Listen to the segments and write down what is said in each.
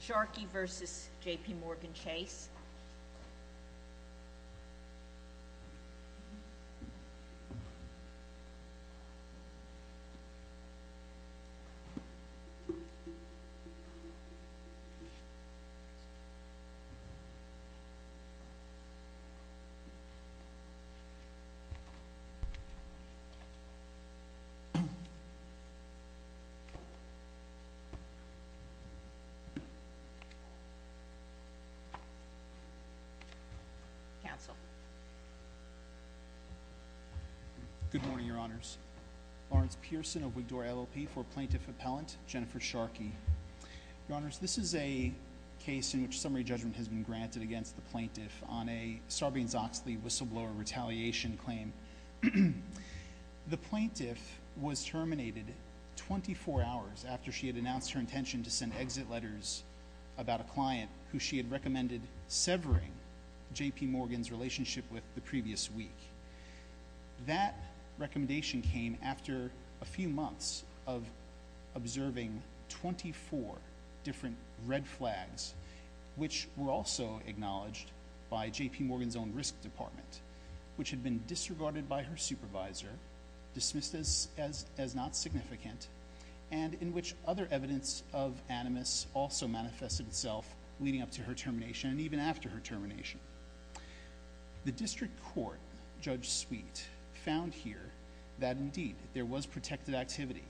Sharkey v. JPMorgan Chase Good morning, Your Honors. Lawrence Pearson of Wigdore LLP for Plaintiff Appellant, Jennifer Sharkey. Your Honors, this is a case in which summary judgment has been granted against the plaintiff on a Sarbanes-Oxley whistleblower retaliation claim. The plaintiff was terminated 24 hours after she had announced her intention to send exit letters about a client who she had recommended severing JPMorgan's relationship with the previous week. That recommendation came after a few months of observing 24 different red flags, which were also acknowledged by JPMorgan's own risk department, which had been disregarded by her supervisor, dismissed as not significant, and in which other evidence of animus also manifested itself leading up to her termination and even after her termination. The district court, Judge Sweet, found here that indeed there was protected activity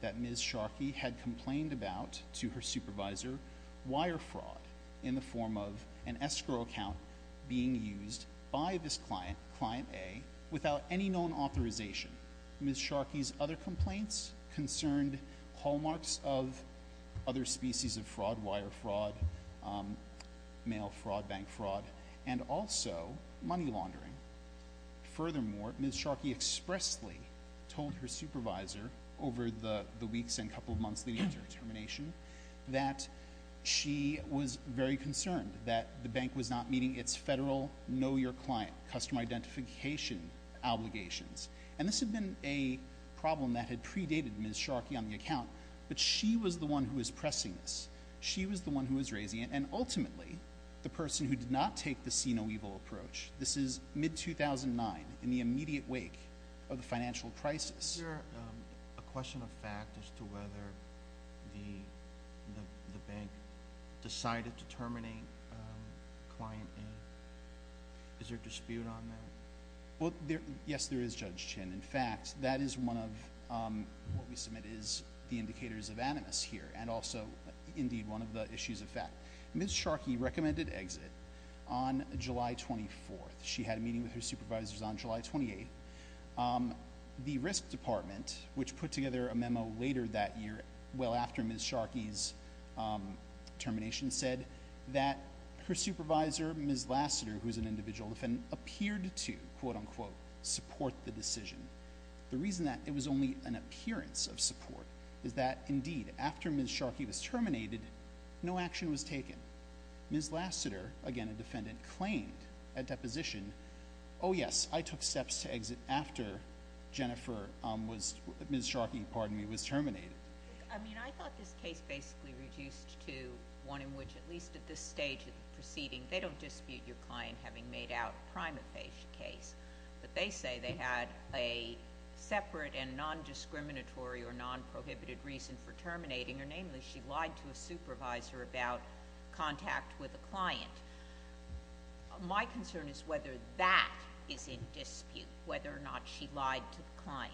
that Ms. Sharkey had complained about to her supervisor, wire fraud in the form of an escrow account being used by this client, Client A, without any known authorization. Ms. Sharkey's other complaints concerned hallmarks of other species of fraud, wire fraud, mail fraud, bank fraud, and also money laundering. Furthermore, Ms. Sharkey expressly told her supervisor over the weeks and couple of months leading up to her termination that she was very concerned that the bank was not meeting its federal know-your-client customer identification obligations. And this had been a problem that had predated Ms. Sharkey on the account, but she was the one who was pressing this. She was the one who was raising it, and ultimately, the person who did not take the see-no-evil approach. This is mid-2009, in the immediate wake of the financial crisis. Is there a question of fact as to whether the bank decided to terminate Client A? Is there a dispute on that? Well, yes, there is, Judge Chin. In fact, that is one of what we submit is the indicators of animus here, and also, indeed, one of the issues of fact. Ms. Sharkey recommended exit on July 24th. She had a meeting with her supervisors on July 28th. The Risk Department, which put together a memo later that year, well after Ms. Sharkey's termination, said that her supervisor, Ms. Lassiter, who is an individual defendant, appeared to, quote-unquote, support the decision. The reason that it was only an appearance of support is that, indeed, after Ms. Sharkey was terminated, no action was taken. Ms. Lassiter, again a defendant, claimed at deposition, oh, yes, I took steps to exit after Ms. Sharkey was terminated. I mean, I thought this case basically reduced to one in which, at least at this stage of the proceeding, they don't dispute your client having made out a prima facie case, but they say they had a separate and non-discriminatory or non-prohibited reason for terminating, namely she lied to a supervisor about contact with a client. My concern is whether that is in dispute, whether or not she lied to the client.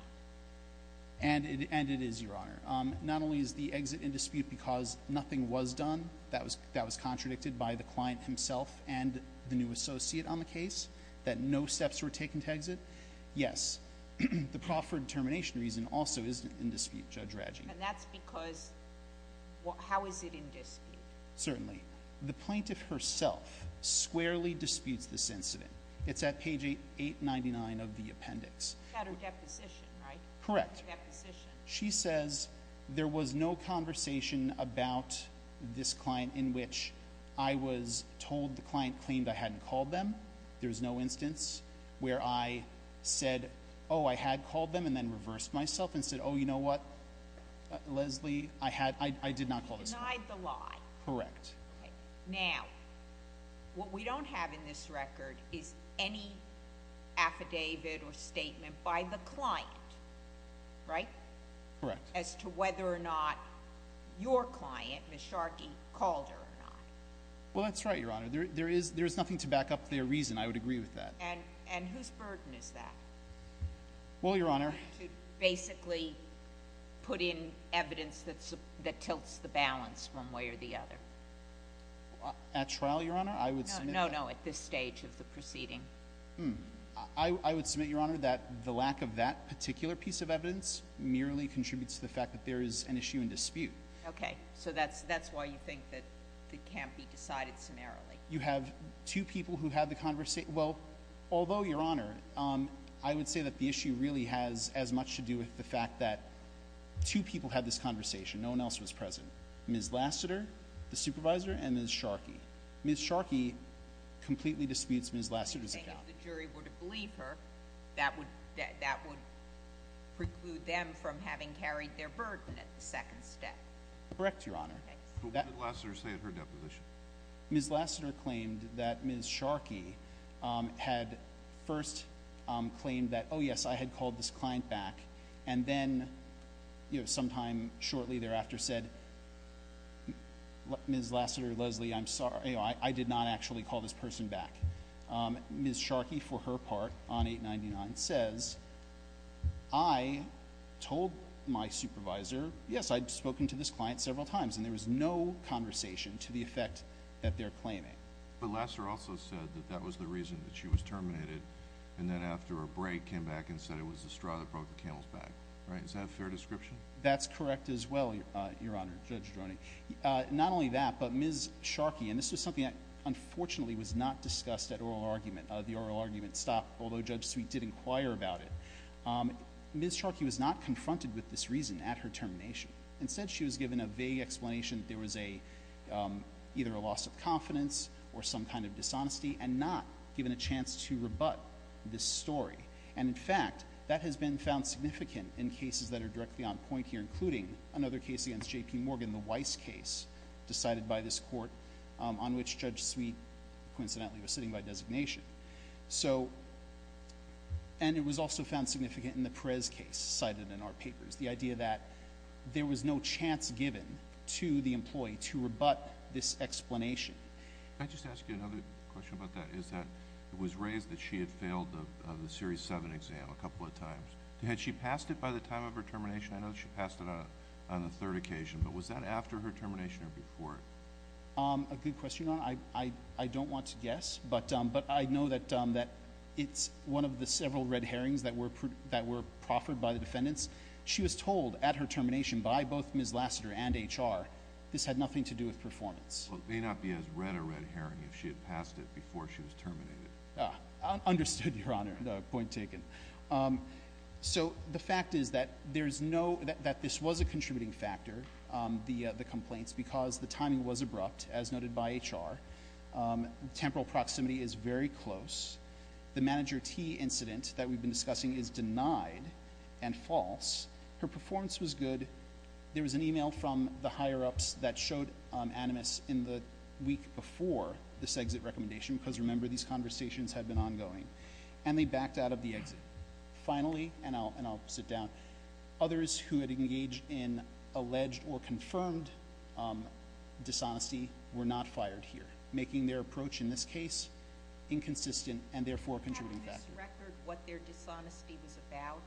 And it is, Your Honor. Not only is the exit in dispute because nothing was done that was contradicted by the client himself and the new associate on the case, that no steps were taken to exit, yes, the proffered termination reason also is in dispute, Judge Radji. And that's because, how is it in dispute? Certainly. The plaintiff herself squarely disputes this incident. It's at page 899 of the appendix. At her deposition, right? Correct. Deposition. She says there was no conversation about this client in which I was told the client claimed I hadn't called them. There's no instance where I said, oh, I had called them and then Leslie, I had, I did not call this client. Denied the lie. Correct. Now, what we don't have in this record is any affidavit or statement by the client, right? Correct. As to whether or not your client, Ms. Sharkey, called her or not. Well, that's right, Your Honor. There is nothing to back up their reason. I would agree with that. And whose burden is that? Well, Your Honor. To basically put in evidence that tilts the balance one way or the other. At trial, Your Honor? I would submit that. No, no, at this stage of the proceeding. I would submit, Your Honor, that the lack of that particular piece of evidence merely contributes to the fact that there is an issue in dispute. Okay. So that's why you think that it can't be decided summarily. You have two people who had the conversation. Well, although, Your Honor, I would say that the issue really has as much to do with the fact that two people had this conversation. No one else was present. Ms. Lassiter, the supervisor, and Ms. Sharkey. Ms. Sharkey completely disputes Ms. Lassiter's account. And you think if the jury would have believed her, that would preclude them from having carried their burden at the second step? Correct, Your Honor. Okay. So what did Lassiter say at her deposition? Ms. Lassiter claimed that Ms. Sharkey had first claimed that, oh, yes, I had called this client back, and then, you know, sometime shortly thereafter said, Ms. Lassiter, Leslie, I'm sorry, you know, I did not actually call this person back. Ms. Sharkey, for her part, on 899, says, I told my supervisor, yes, I'd spoken to this client, that they're claiming. But Lassiter also said that that was the reason that she was terminated, and then after her break came back and said it was the straw that broke the camel's back. Right? Is that a fair description? That's correct as well, Your Honor, Judge Droning. Not only that, but Ms. Sharkey, and this was something that unfortunately was not discussed at oral argument, the oral argument stopped, although Judge Sweet did inquire about it. Ms. Sharkey was not confronted with this reason at her termination. Instead, she was given a vague explanation that there was a, either a loss of confidence or some kind of dishonesty, and not given a chance to rebut this story. And in fact, that has been found significant in cases that are directly on point here, including another case against J.P. Morgan, the Weiss case, decided by this court on which Judge Sweet, coincidentally, was sitting by designation. So, and it was also found significant in the Perez case cited in our papers. The idea that there was no chance given to the employee to rebut this explanation. Can I just ask you another question about that? Is that it was raised that she had failed the Series 7 exam a couple of times. Had she passed it by the time of her termination? I know she passed it on the third occasion, but was that after her termination or before it? A good question, Your Honor. I don't want to guess, but I know that it's one of the cases that was raised after her termination by both Ms. Lassiter and H.R. This had nothing to do with performance. Well, it may not be as red a red herring if she had passed it before she was terminated. Understood, Your Honor. Point taken. So, the fact is that there's no, that this was a contributing factor, the complaints, because the timing was abrupt, as noted by H.R. Temporal proximity is very close. The Manager T. incident that we've been discussing is denied and false. Her performance was good. There was an e-mail from the higher-ups that showed animus in the week before this exit recommendation, because remember, these conversations had been ongoing, and they backed out of the exit. Finally, and I'll sit down, others who had engaged in alleged or confirmed dishonesty were not fired here, making their approach in this case inconsistent and therefore a contributing factor. Have you misrecorded what their dishonesty was about?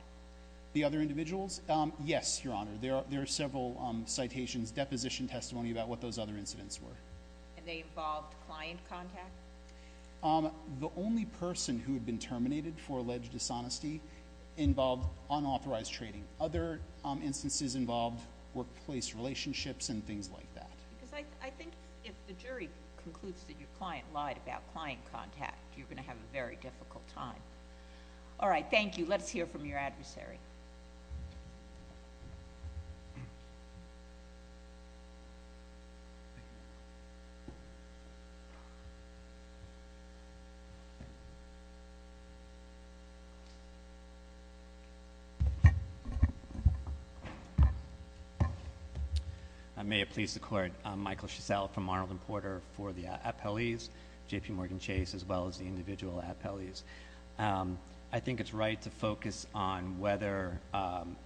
The other individuals? Yes, Your Honor. There are several citations, deposition testimony about what those other incidents were. And they involved client contact? The only person who had been terminated for alleged dishonesty involved unauthorized trading. Other instances involved workplace relationships and things like that. Because I think if the jury concludes that your client lied about client contact, you're going to have a very difficult time. All right, thank you. Let's hear from your adversary. May it please the Court, I'm Michael Shisell from Arnold & Porter for the appellees, J.P. Morgan Chase, as well as the individual appellees. I think it's right to focus on whether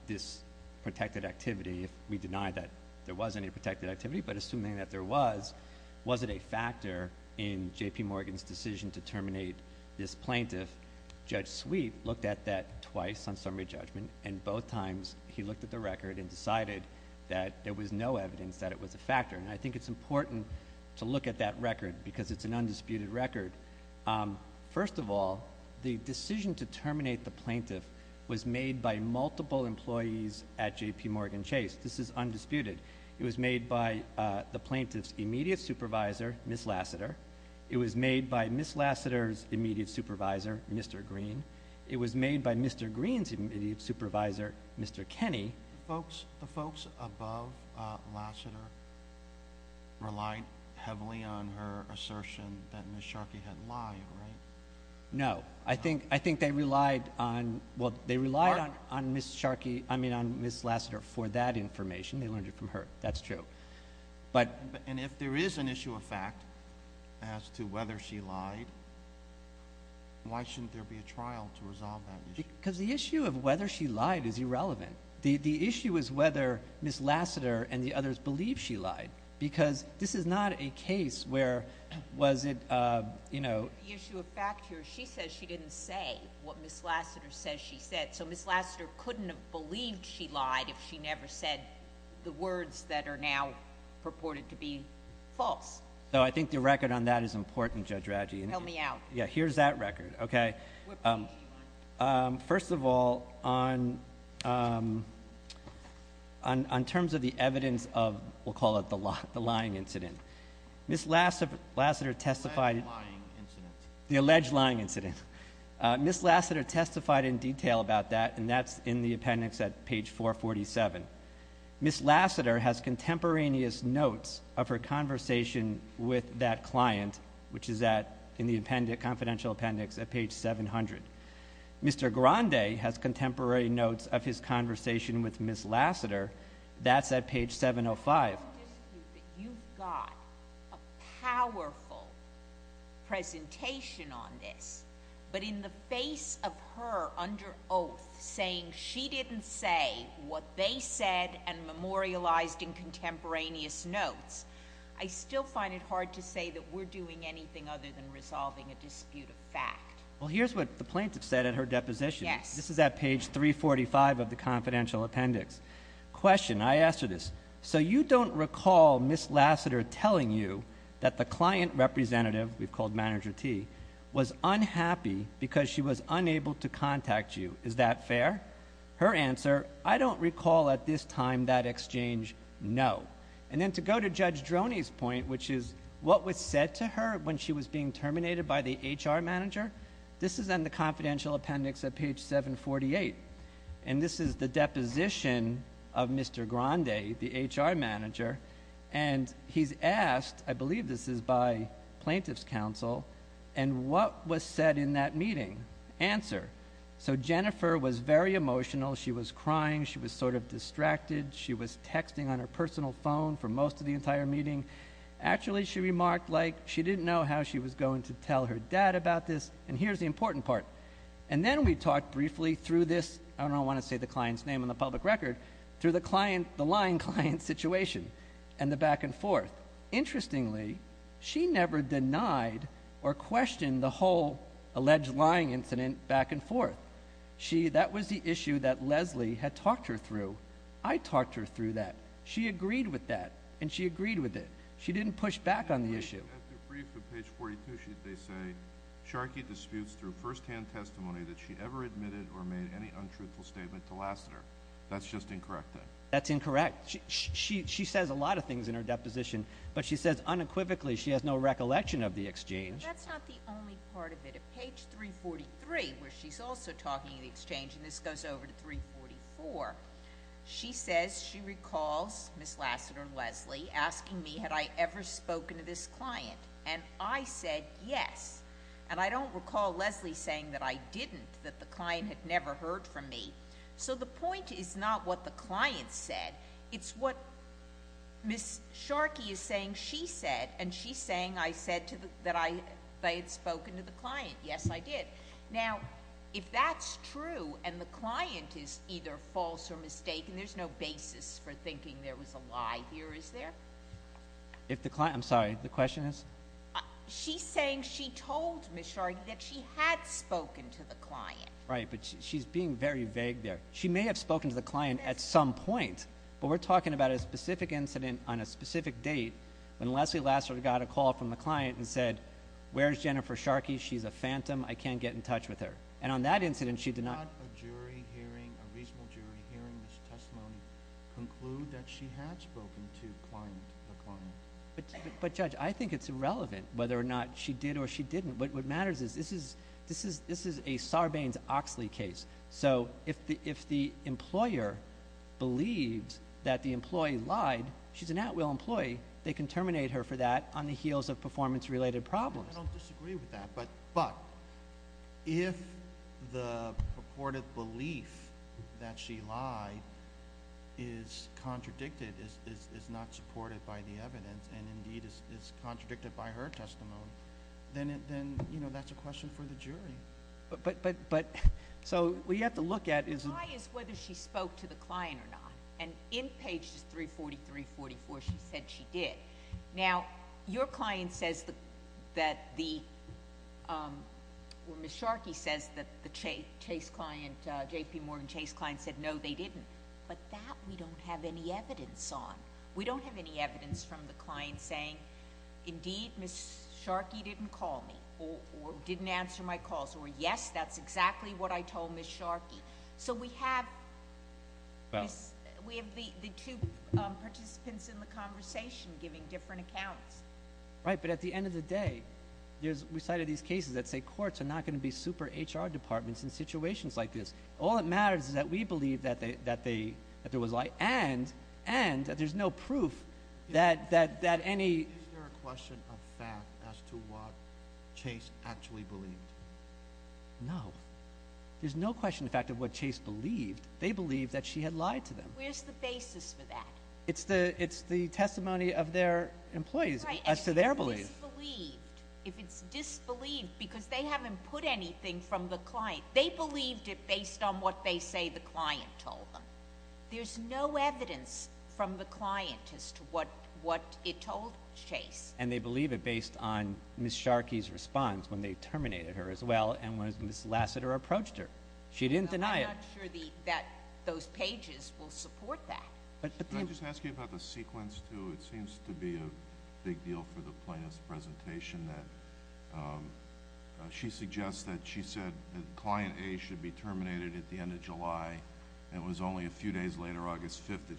this protected activity, if we deny that there was any protected activity, but assuming that there was, was it a factor in J.P. Morgan's decision to terminate this plaintiff? Judge Sweet looked at that twice on summary judgment, and both times he looked at the record and decided that there was no evidence that it was a factor. And I think it's important to look at that record because it's an undisputed record. First of all, the decision to terminate the plaintiff was made by multiple employees at J.P. Morgan Chase. This is undisputed. It was made by the plaintiff's immediate supervisor, Ms. Lassiter. It was made by Ms. Lassiter's immediate supervisor, Mr. Green. It was made by Mr. Green's immediate supervisor, Mr. Kenney. The folks above Lassiter relied heavily on her assertion that Ms. Sharkey had lied, right? No. I think they relied on Ms. Sharkey, I mean, on Ms. Lassiter for that information. They learned it from her. That's true. And if there is an issue of fact as to whether she lied, why shouldn't there be a trial to resolve that issue? Because the issue of whether she lied is irrelevant. The issue is whether Ms. Lassiter and the others believe she lied. Because this is not a case where was it, you know— The issue of fact here, she says she didn't say what Ms. Lassiter says she said. So Ms. Lassiter couldn't have believed she lied if she never said the words that are now purported to be false. So I think the record on that is important, Judge Radji. Tell me out. Yeah, here's that record, okay? What part did she lie about? First of all, on terms of the evidence of, we'll call it the lying incident, Ms. Lassiter testified— Alleged lying incident. The alleged lying incident. Ms. Lassiter testified in detail about that, and that's in the appendix at page 447. Ms. Lassiter has contemporaneous notes of her conversation with that client, which is in the confidential appendix at page 700. Mr. Grande has contemporary notes of his conversation with Ms. Lassiter. That's at page 705. I don't dispute that you've got a powerful presentation on this, but in the face of her under oath saying she didn't say what they said and memorialized in contemporaneous notes, I still find it hard to say that we're doing anything other than resolving a dispute of fact. Well, here's what the plaintiff said in her deposition. Yes. This is at page 345 of the confidential appendix. Question, I asked her this, so you don't recall Ms. Lassiter telling you that the client representative, we've called Manager T, was unhappy because she was unable to contact you. Is that fair? Her answer, I don't recall at this time that Judge Droney's point, which is, what was said to her when she was being terminated by the HR manager? This is in the confidential appendix at page 748. This is the deposition of Mr. Grande, the HR manager, and he's asked, I believe this is by plaintiff's counsel, and what was said in that meeting? Answer. Jennifer was very emotional. She was crying. She was sort of distracted. She was texting on her personal phone for most of the entire meeting. Actually, she remarked like she didn't know how she was going to tell her dad about this, and here's the important part. And then we talked briefly through this, I don't want to say the client's name on the public record, through the lying client situation and the back and forth. Interestingly, she never denied or questioned the whole alleged lying incident back and forth. That was the issue that Leslie had talked her through. I talked her through that. She agreed with that, and she agreed with it. She didn't push back on the issue. At the brief at page 42, they say, Sharkey disputes through firsthand testimony that she ever admitted or made any untruthful statement to Lassiter. That's just incorrect, then? That's incorrect. She says a lot of things in her deposition, but she says unequivocally she has no recollection of the exchange. That's not the only part of it. At page 343, where she's also talking of the exchange, and this goes over to 344, she says she recalls Ms. Lassiter and Leslie asking me, had I ever spoken to this client? And I said, yes. And I don't recall Leslie saying that I didn't, that the client had never heard from me. So the point is not what the client said. It's what Ms. Sharkey is saying she said, and she's saying I said that I had spoken to the client. Yes, I did. Now, if that's true and the client is either false or mistaken, there's no basis for thinking there was a lie here, is there? If the client, I'm sorry, the question is? She's saying she told Ms. Sharkey that she had spoken to the client. Right, but she's being very vague there. She may have spoken to the client at some point, but we're talking about a specific incident on a specific date when Leslie Lassiter got a call from the client and said, where's Jennifer Sharkey? She's a phantom. I can't get in touch with her. And on that incident, she did not... Could not a jury hearing, a reasonable jury hearing this testimony conclude that she had spoken to the client? But Judge, I think it's irrelevant whether or not she did or she didn't, but what matters is this is a Sarbanes-Oxley case. So if the employer believes that the employee lied, she's an at-will employee, they can terminate her for that on the heels of performance-related problems. I don't disagree with that, but if the purported belief that she lied is contradicted, is not supported by the evidence and, indeed, is contradicted by her testimony, then that's a question for the jury. So what you have to look at is... Did she talk to the client or not? And in pages 343, 344, she said she did. Now, your client says that the...or Ms. Sharkey says that the Chase client, J.P. Morgan Chase client, said no, they didn't. But that we don't have any evidence on. We don't have any evidence from the client saying, indeed, Ms. Sharkey didn't call me or didn't answer my calls, or yes, that's exactly what I told Ms. Sharkey. So we have the two participants in the conversation giving different accounts. Right, but at the end of the day, we cited these cases that say courts are not going to be super-H.R. departments in situations like this. All that matters is that we believe that there was a lie and that there's no proof that any... Is there a question of fact as to what Chase actually believed? No. There's no question, in fact, of what Chase believed. They believed that she had lied to them. Where's the basis for that? It's the testimony of their employees as to their belief. Right, and if it's disbelieved, if it's disbelieved because they haven't put anything from the client, they believed it based on what they say the client told them. There's no evidence from the client as to what it told Chase. And they believe it based on Ms. Sharkey's response when they terminated her as well and when Ms. Lassiter approached her. She didn't deny it. I'm not sure that those pages will support that. But do you... Can I just ask you about the sequence, too? It seems to be a big deal for the plaintiff's presentation that she suggests that she said that Client A should be terminated at the time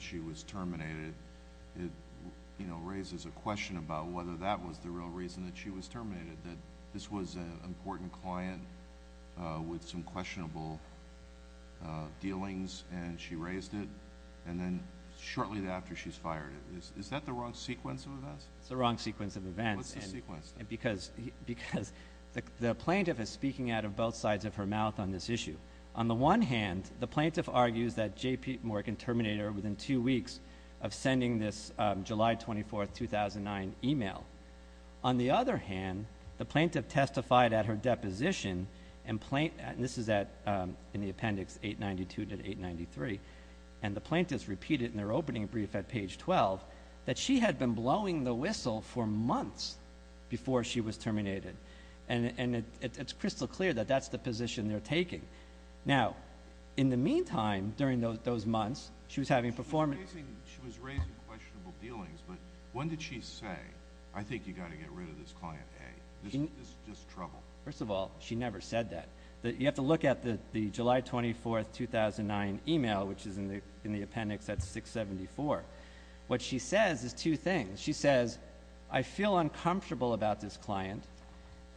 she was terminated. It raises a question about whether that was the real reason that she was terminated, that this was an important client with some questionable dealings, and she raised it. And then shortly after, she's fired. Is that the wrong sequence of events? It's the wrong sequence of events. What's the sequence, then? Because the plaintiff is speaking out of both sides of her mouth on this issue. On the one hand, the plaintiff argues that J.P. Morgan terminated her within two weeks of sending this July 24, 2009, email. On the other hand, the plaintiff testified at her deposition, and this is in the appendix 892 to 893, and the plaintiff's repeated in their opening brief at page 12, that she had been blowing the whistle for months before she was terminated. It's crystal clear that that's the position they're taking. Now, in the meantime, during those months, she was having a performance... She was raising questionable dealings, but when did she say, I think you've got to get rid of this Client A? This is just trouble. First of all, she never said that. You have to look at the July 24, 2009, email, which is in the appendix at 674. What she says is two things. She says, I feel uncomfortable about this client,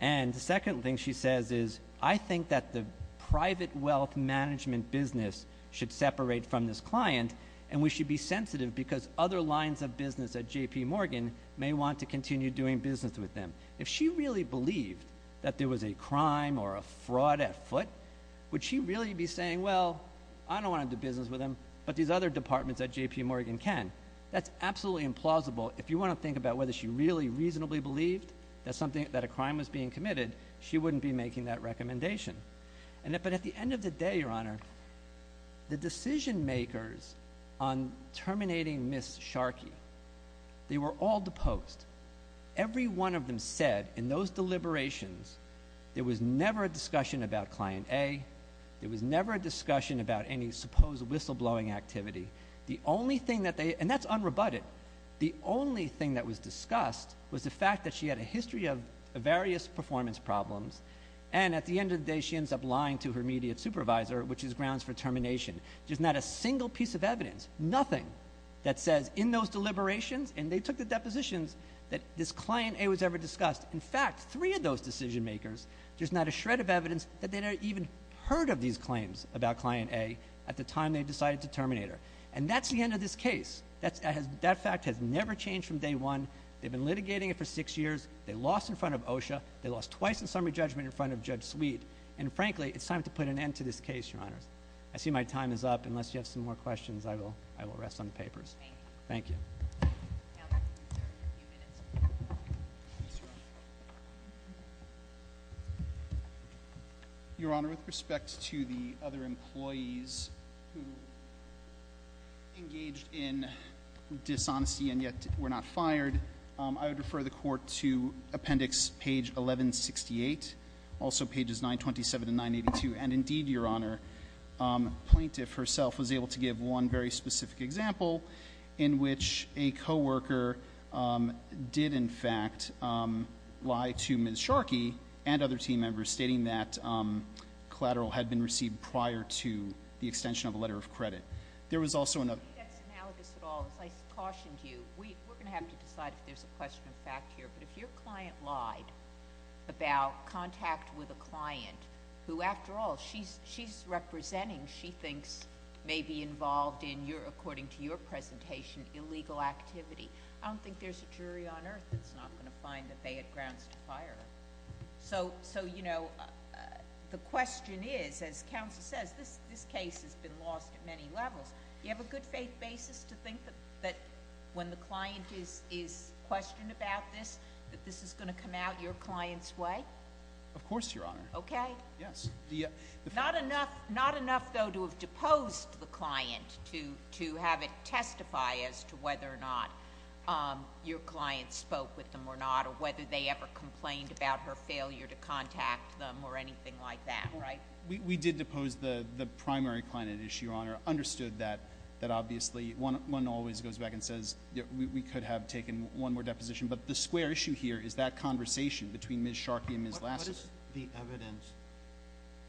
and the second thing she says is, I think that the private wealth management business should separate from this client, and we should be sensitive because other lines of business at J.P. Morgan may want to continue doing business with them. If she really believed that there was a crime or a fraud at foot, would she really be saying, well, I don't want to do business with them, but these other departments at J.P. Morgan can? That's absolutely implausible. If you want to think about whether she really reasonably believed that a crime was being committed, she wouldn't be making that recommendation. At the end of the day, Your Honor, the decision makers on terminating Ms. Sharkey, they were all deposed. Every one of them said, in those deliberations, there was never a discussion about Client A. There was never a discussion about any supposed whistleblowing activity. The only thing that they, and that's unrebutted, the only thing that was discussed was the fact that she had a history of various performance problems, and at the end of the day, she ends up lying to her immediate supervisor, which is grounds for termination. There's not a single piece of evidence, nothing, that says, in those deliberations, and they took the depositions, that this Client A was ever discussed. In fact, three of those decision makers, there's not a shred of evidence that they'd ever even heard of these claims about Client A at the time they decided to terminate her. And that's the end of this case. That fact has never changed from day one. They've been litigating it for six years. They lost in front of OSHA. They lost twice in summary judgment in front of Judge Sweet. And frankly, it's time to put an end to this case, Your Honor. I see my time is up. Unless you have some more questions, I will rest on the papers. Thank you. Your Honor, with respect to the other employees who engaged in dishonesty and yet were not fired, I would refer the Court to Appendix Page 1168, also pages 927 and 982. And indeed, Your Honor, Plaintiff herself was able to give one very specific example in which a co-worker did, in fact, lie to Ms. Sharkey and other team members, stating that collateral had been received prior to the extension of a letter of credit. There was also another I don't think that's analogous at all. As I cautioned you, we're going to have to decide if there's a question of fact here. But if your client lied about contact with a client, who, after all, she's representing, she thinks, may be involved in, according to your presentation, illegal activity, I don't think there's a jury on earth that's not going to find that they had grounds to fire her. So, you know, the question is, as counsel says, this case has been lost at many levels. Do you have a good faith basis to think that when the client is questioned about this, that this is going to come out your client's way? Yes. Not enough, though, to have deposed the client to have it testify as to whether or not your client spoke with them or not, or whether they ever complained about her failure to contact them or anything like that, right? We did depose the primary client at issue, Your Honor. Understood that, obviously, one always goes back and says, we could have taken one more deposition. But the square issue here is that conversation between Ms. Sharkey and Ms. Lassiter. What is the evidence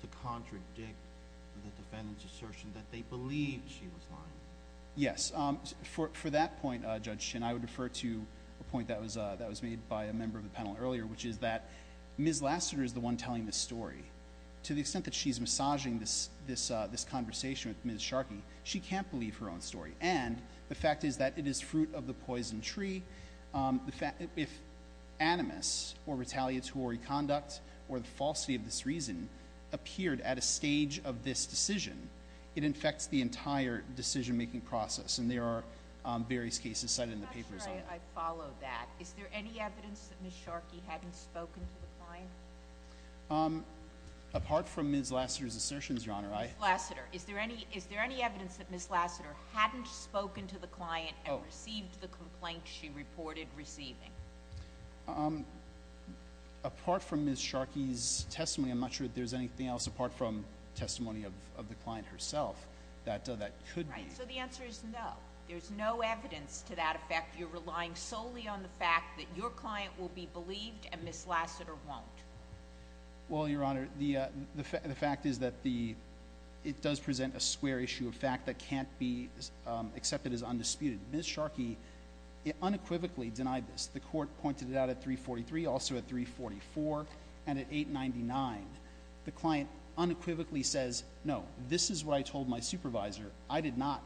to contradict the defendant's assertion that they believe she was lying? Yes. For that point, Judge Shin, I would refer to a point that was made by a member of the panel earlier, which is that Ms. Lassiter is the one telling the story. To the extent that she's massaging this conversation with Ms. Sharkey, she can't believe her own story. And the fact is that it is fruit of the poison tree. If animus or retaliatory conduct is where the falsity of this reason appeared at a stage of this decision, it infects the entire decision-making process. And there are various cases cited in the papers on that. I'm not sure I follow that. Is there any evidence that Ms. Sharkey hadn't spoken to the client? Apart from Ms. Lassiter's assertions, Your Honor, I— Ms. Lassiter. Is there any evidence that Ms. Lassiter hadn't spoken to the client and received the complaint she reported receiving? Apart from Ms. Sharkey's testimony, I'm not sure that there's anything else apart from testimony of the client herself that that could be. Right. So the answer is no. There's no evidence to that effect. You're relying solely on the fact that your client will be believed and Ms. Lassiter won't. Well, Your Honor, the fact is that the—it does present a square issue of fact that can't be accepted as undisputed. Ms. Sharkey unequivocally denied this. The court pointed it out at 343, also at 344, and at 899. The client unequivocally says, no, this is what I told my supervisor. I did not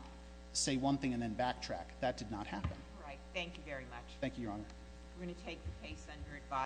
say one thing and then backtrack. That did not happen. All right. Thank you very much. Thank you, Your Honor. We're going to take the case under advice.